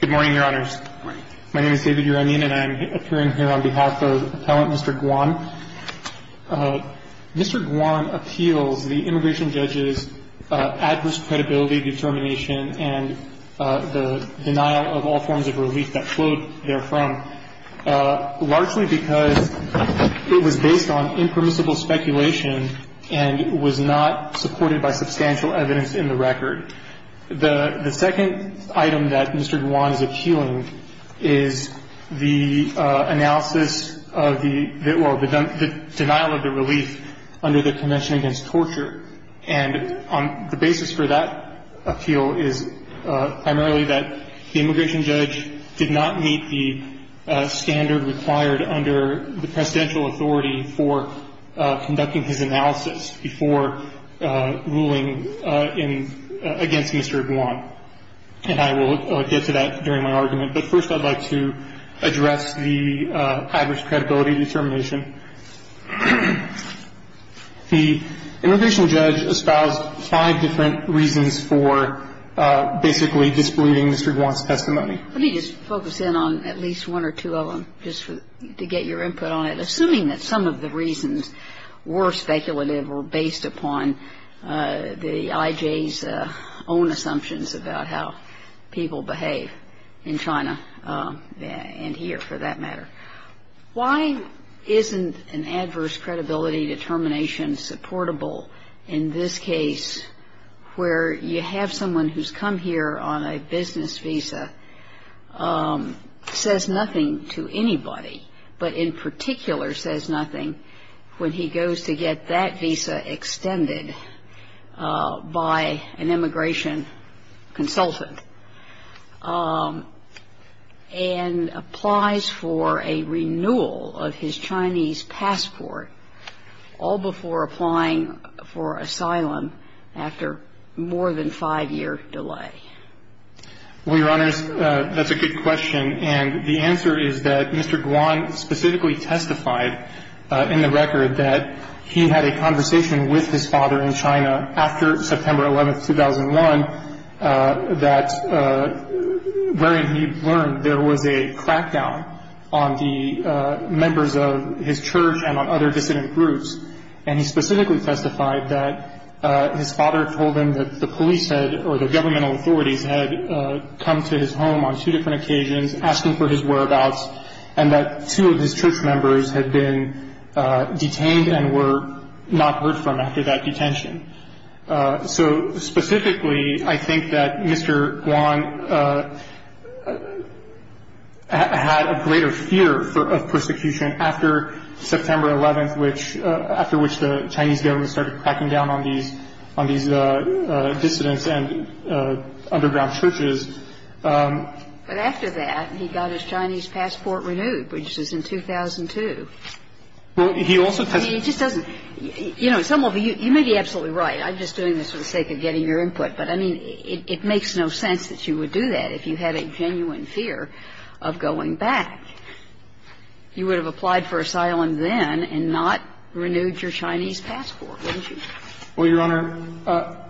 Good morning, Your Honors. My name is David Uramian and I'm appearing here on behalf of Appellant Mr. Guan. Mr. Guan appeals the immigration judge's adverse credibility determination and the denial of all forms of relief that flowed therefrom, largely because it was based on impermissible speculation and was not supported by substantial evidence in the record. The second item that Mr. Guan is appealing is the analysis of the – well, the denial of the relief under the Convention Against Torture. And the basis for that appeal is primarily that the immigration judge did not meet the standard required under the presidential authority for conducting his analysis before ruling in – against Mr. Guan. And I will get to that during my argument. But first I'd like to address the adverse credibility determination. The immigration judge espoused five different reasons for basically disbelieving Mr. Guan's testimony. Let me just focus in on at least one or two of them just to get your input on it, assuming that some of the reasons were speculative or based upon the IJ's own assumptions about how people behave in China and here, for that matter. Why isn't an adverse credibility determination supportable in this case where you have someone who's come here on a business visa, says nothing to anybody, but in particular says nothing when he goes to get that visa extended by an immigration consultant and applies for a renewal of his Chinese passport all before applying for asylum after more than five-year delay? Well, Your Honors, that's a good question. And the answer is that Mr. Guan specifically testified in the record that he had a conversation with his father in China after September 11, 2001, wherein he learned there was a crackdown on the members of his church and on other dissident groups. And he specifically testified that his father told him that the police had – or the governmental authorities had come to his home on two different occasions asking for his whereabouts and that two of his church members had been detained and were not heard from after that detention. So specifically, I think that Mr. Guan had a greater fear of persecution after September 11, after which the Chinese government started cracking down on these dissidents and underground churches. But after that, he got his Chinese passport renewed, which was in 2002. Well, he also testified – He just doesn't – you know, some of you – you may be absolutely right. I'm just doing this for the sake of getting your input. But, I mean, it makes no sense that you would do that if you had a genuine fear of going back. You would have applied for asylum then and not renewed your Chinese passport, wouldn't you? Well, Your Honor,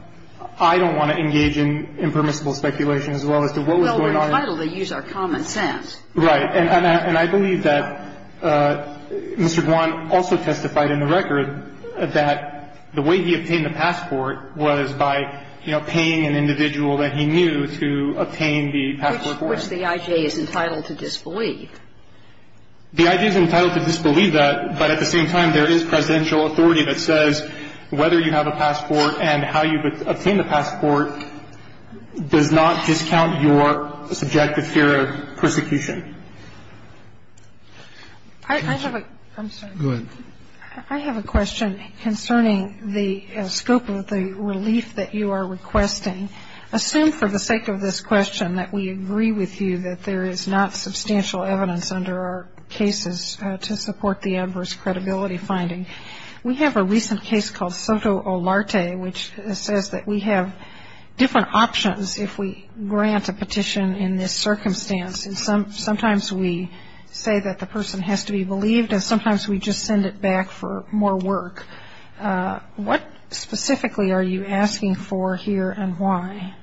I don't want to engage in impermissible speculation as well as to what was going on. Well, we're entitled to use our common sense. Right. And I believe that Mr. Guan also testified in the record that the way he obtained the passport was by, you know, paying an individual that he knew to obtain the passport for him. Which the I.J. is entitled to disbelieve. The I.J. is entitled to disbelieve that. But at the same time, there is presidential authority that says whether you have a passport and how you obtain the passport does not discount your subjective fear of persecution. I have a – I'm sorry. Go ahead. I have a question concerning the scope of the relief that you are requesting. Assume for the sake of this question that we agree with you that there is not substantial evidence under our cases to support the adverse credibility finding. We have a recent case called Soto Olarte, which says that we have different options if we grant a petition in this circumstance. And sometimes we say that the person has to be believed and sometimes we just send it back for more work. What specifically are you asking for here and why?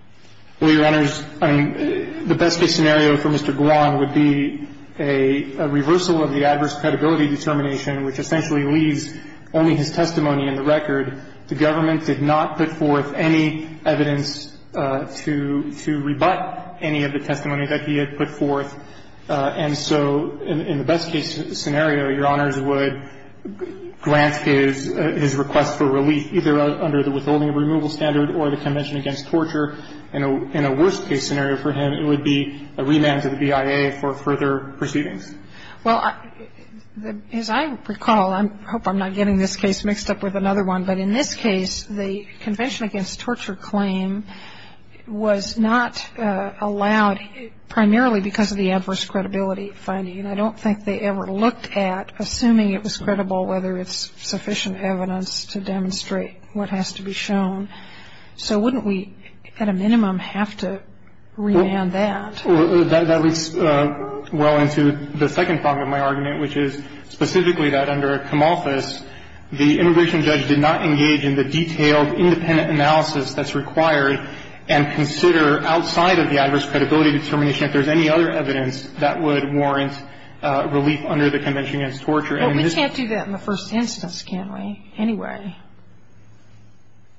Well, Your Honors, I mean, the best-case scenario for Mr. Guan would be a reversal of the adverse credibility determination, which essentially leaves only his testimony in the record. The government did not put forth any evidence to – to rebut any of the testimony that he had put forth. And so in the best-case scenario, Your Honors, would grant his – his request for relief either under the withholding of removal standard or the Convention Against Torture. In a worst-case scenario for him, it would be a remand to the BIA for further proceedings. Well, as I recall – I hope I'm not getting this case mixed up with another one – but in this case, the Convention Against Torture claim was not allowed primarily because of the adverse credibility finding. And I don't think they ever looked at, assuming it was credible, whether it's sufficient evidence to demonstrate what has to be shown. So wouldn't we, at a minimum, have to remand that? Well, that leads well into the second part of my argument, which is specifically that under a commorphous, the immigration judge did not engage in the detailed independent analysis that's required and consider outside of the adverse credibility determination if there's any other evidence that would warrant relief under the Convention Against Torture. But we can't do that in the first instance, can we, anyway?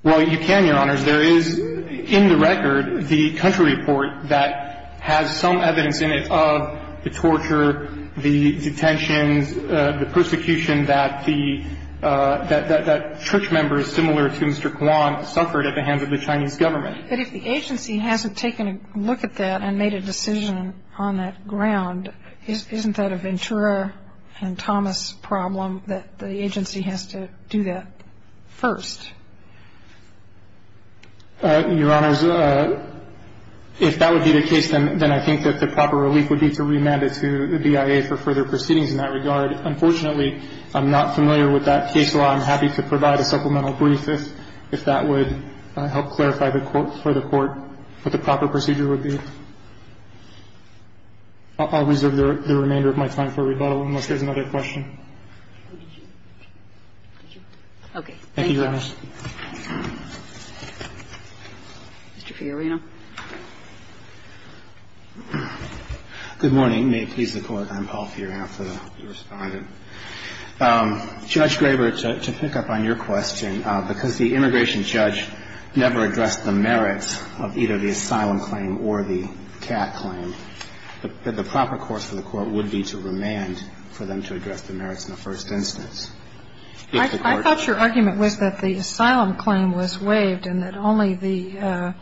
Well, you can, Your Honors. There is in the record the country report that has some evidence in it of the torture, the detentions, the persecution that the – that church members similar to Mr. Kwan suffered at the hands of the Chinese government. But if the agency hasn't taken a look at that and made a decision on that ground, isn't that a Ventura and Thomas problem that the agency has to do that first? Your Honors, if that would be the case, then I think that the proper relief would be to remand it to the BIA for further proceedings in that regard. Unfortunately, I'm not familiar with that case law. I'm happy to provide a supplemental brief if that would help clarify for the Court what the proper procedure would be. I'll reserve the remainder of my time for rebuttal unless there's another question. Okay. Thank you, Your Honors. Mr. Fiorino. Good morning. May it please the Court. I'm Paul Fiorino. I'm here to respond. Judge Graber, to pick up on your question, because the immigration judge never addressed the merits of either the asylum claim or the CAT claim, the proper course for the Court would be to remand for them to address the merits in the first instance. I thought your argument was that the asylum claim was waived and that only the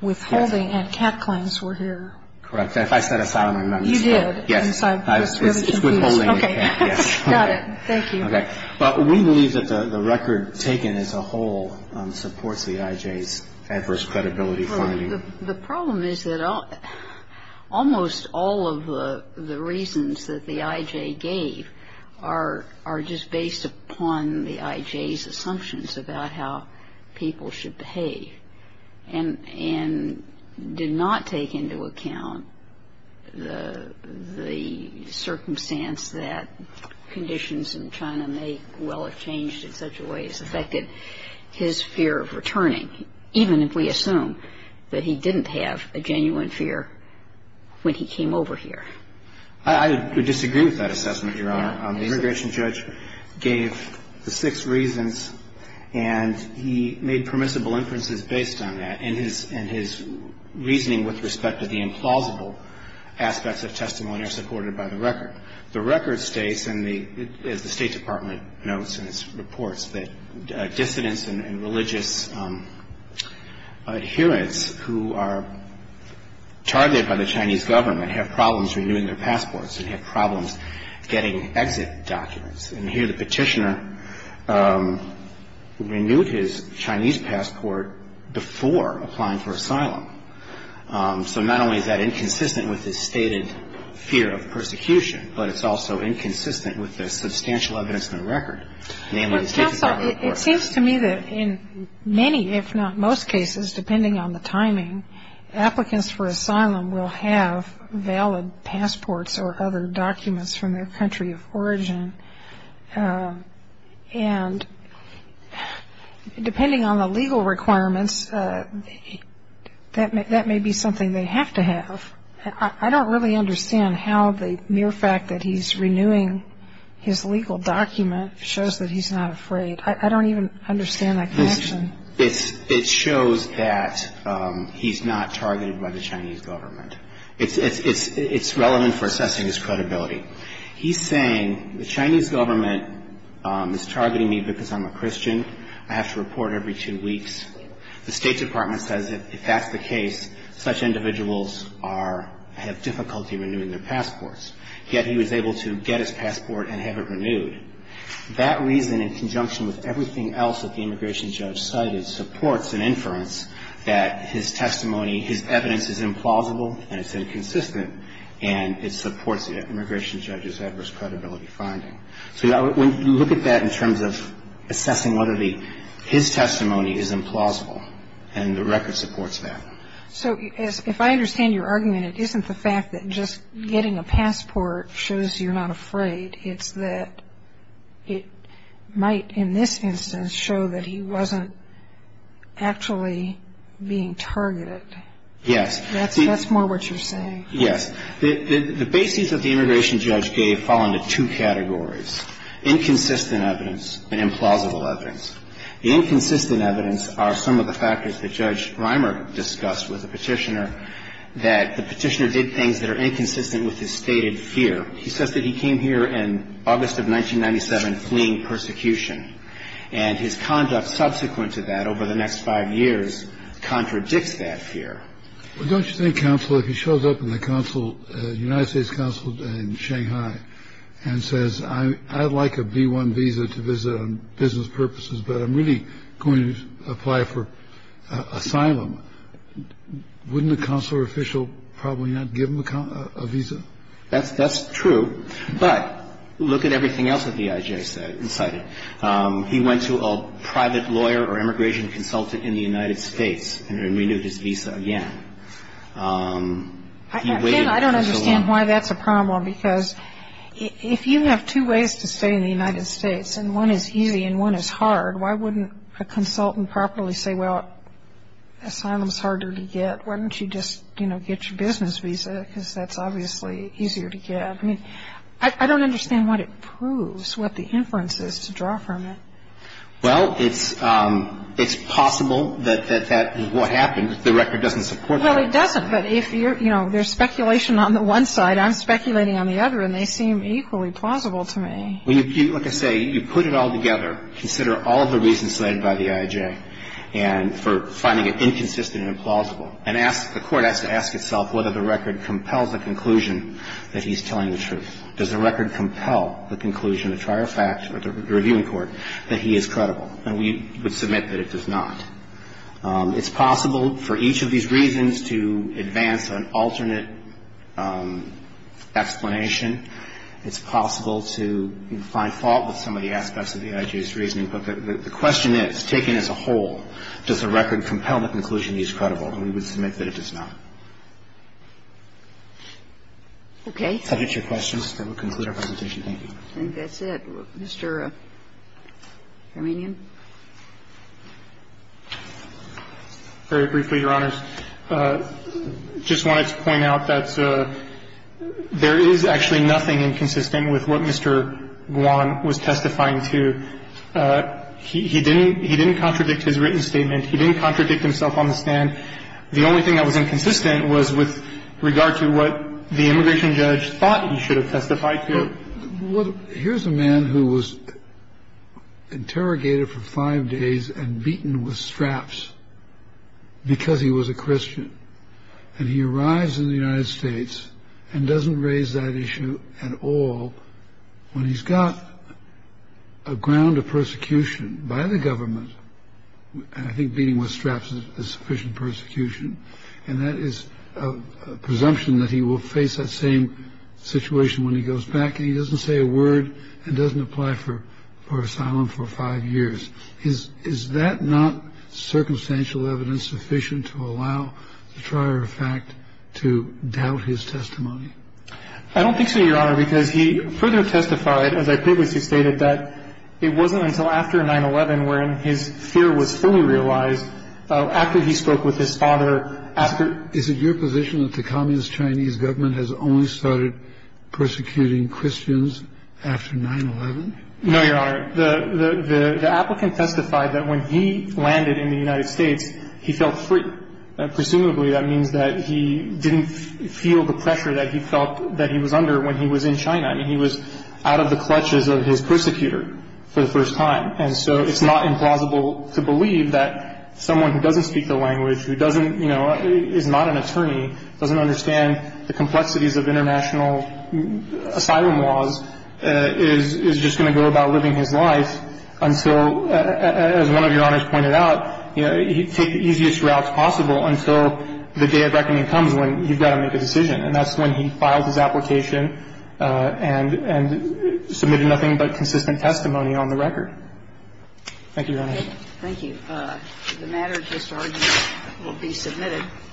withholding and CAT claims were here. Correct. If I said asylum, I meant to. You did. Yes. It's withholding and CAT. Okay. Got it. Thank you. We believe that the record taken as a whole supports the I.J.'s adverse credibility finding. The problem is that almost all of the reasons that the I.J. gave are just based upon the I.J.'s assumptions about how people should behave and did not take into account the circumstance that conditions in China may well have changed in such a way as affected his fear of returning, even if we assume that he didn't have a genuine fear when he came over here. I would disagree with that assessment, Your Honor. The immigration judge gave the six reasons and he made permissible inferences based on that and his reasoning with respect to the implausible aspects of testimony are supported by the record. The record states, as the State Department notes in its reports, that dissidents and religious adherents who are targeted by the Chinese government have problems renewing their passports and have problems getting exit documents. And here the petitioner renewed his Chinese passport before applying for asylum. So not only is that inconsistent with his stated fear of persecution, but it's also inconsistent with the substantial evidence in the record. Namely, it's taken out of the report. Well, counsel, it seems to me that in many, if not most cases, depending on the timing, applicants for asylum will have valid passports or other documents from their country of origin. And depending on the legal requirements, that may be something they have to have. I don't really understand how the mere fact that he's renewing his legal document shows that he's not afraid. I don't even understand that connection. It shows that he's not targeted by the Chinese government. It's relevant for assessing his credibility. He's saying the Chinese government is targeting me because I'm a Christian. I have to report every two weeks. The State Department says if that's the case, such individuals have difficulty renewing their passports. Yet he was able to get his passport and have it renewed. That reason, in conjunction with everything else that the immigration judge cited, supports an inference that his testimony, his evidence is implausible and it's inconsistent, and it supports the immigration judge's adverse credibility finding. So when you look at that in terms of assessing whether his testimony is implausible and the record supports that. So if I understand your argument, it isn't the fact that just getting a passport shows you're not afraid. It's that it might, in this instance, show that he wasn't actually being targeted. Yes. That's more what you're saying. Yes. The bases that the immigration judge gave fall into two categories, inconsistent evidence and implausible evidence. The inconsistent evidence are some of the factors that Judge Reimer discussed with the petitioner that the petitioner did things that are inconsistent with his stated fear. He says that he came here in August of 1997 fleeing persecution. And his conduct subsequent to that over the next five years contradicts that fear. Well, don't you think, counsel, if he shows up in the council, United States Council in Shanghai, and says, I'd like a B-1 visa to visit on business purposes, but I'm really going to apply for asylum, wouldn't the consular official probably not give him a visa? That's true. But look at everything else that the IJ cited. He went to a private lawyer or immigration consultant in the United States and renewed his visa again. He waited for so long. And I don't understand why that's a problem, because if you have two ways to stay in the United States, and one is easy and one is hard, why wouldn't a consultant properly say, well, asylum is harder to get, why don't you just, you know, get your business visa, because that's obviously easier to get. I mean, I don't understand what it proves, what the inference is to draw from it. Well, it's possible that that is what happened. The record doesn't support that. Well, it doesn't. But if, you know, there's speculation on the one side, I'm speculating on the other, and they seem equally plausible to me. Like I say, you put it all together, consider all of the reasons cited by the IJ, and for finding it inconsistent and implausible. And ask the court has to ask itself whether the record compels the conclusion that he's telling the truth. Does the record compel the conclusion of prior fact or the reviewing court that he is credible? And we would submit that it does not. It's possible for each of these reasons to advance an alternate explanation. It's possible to find fault with some of the aspects of the IJ's reasoning. But the question is, taken as a whole, does the record compel the conclusion that he is credible? And we would submit that it does not. Okay. If that hits your questions, then we'll conclude our presentation. Thank you. I think that's it. Mr. Hermanian. Very briefly, Your Honors. I just wanted to point out that there is actually nothing inconsistent with what Mr. Guan was testifying to. He didn't contradict his written statement. He didn't contradict himself on the stand. The only thing that was inconsistent was with regard to what the immigration judge thought he should have testified to. Here's a man who was interrogated for five days and beaten with straps because he was a Christian. And he arrives in the United States and doesn't raise that issue at all when he's got a ground of persecution by the government. And I think beating with straps is sufficient persecution. And that is a presumption that he will face that same situation when he goes back. And he doesn't say a word and doesn't apply for asylum for five years. Is that not circumstantial evidence sufficient to allow the trier of fact to doubt his testimony? I don't think so, Your Honor, because he further testified, as I previously stated, that it wasn't until after 9-11 when his fear was fully realized after he spoke with his father. Is it your position that the Communist Chinese government has only started persecuting Christians after 9-11? No, Your Honor. The applicant testified that when he landed in the United States, he felt free. Presumably, that means that he didn't feel the pressure that he felt that he was under when he was in China. I mean, he was out of the clutches of his persecutor for the first time. And so it's not implausible to believe that someone who doesn't speak the language, who doesn't, you know, is not an attorney, doesn't understand the complexities of international asylum laws, is just going to go about living his life until, as one of Your Honors pointed out, he'd take the easiest route possible until the day of reckoning comes when he's got to make a decision. And that's when he files his application and submitted nothing but consistent testimony on the record. Thank you, Your Honor. Thank you. The matter at this argument will be submitted.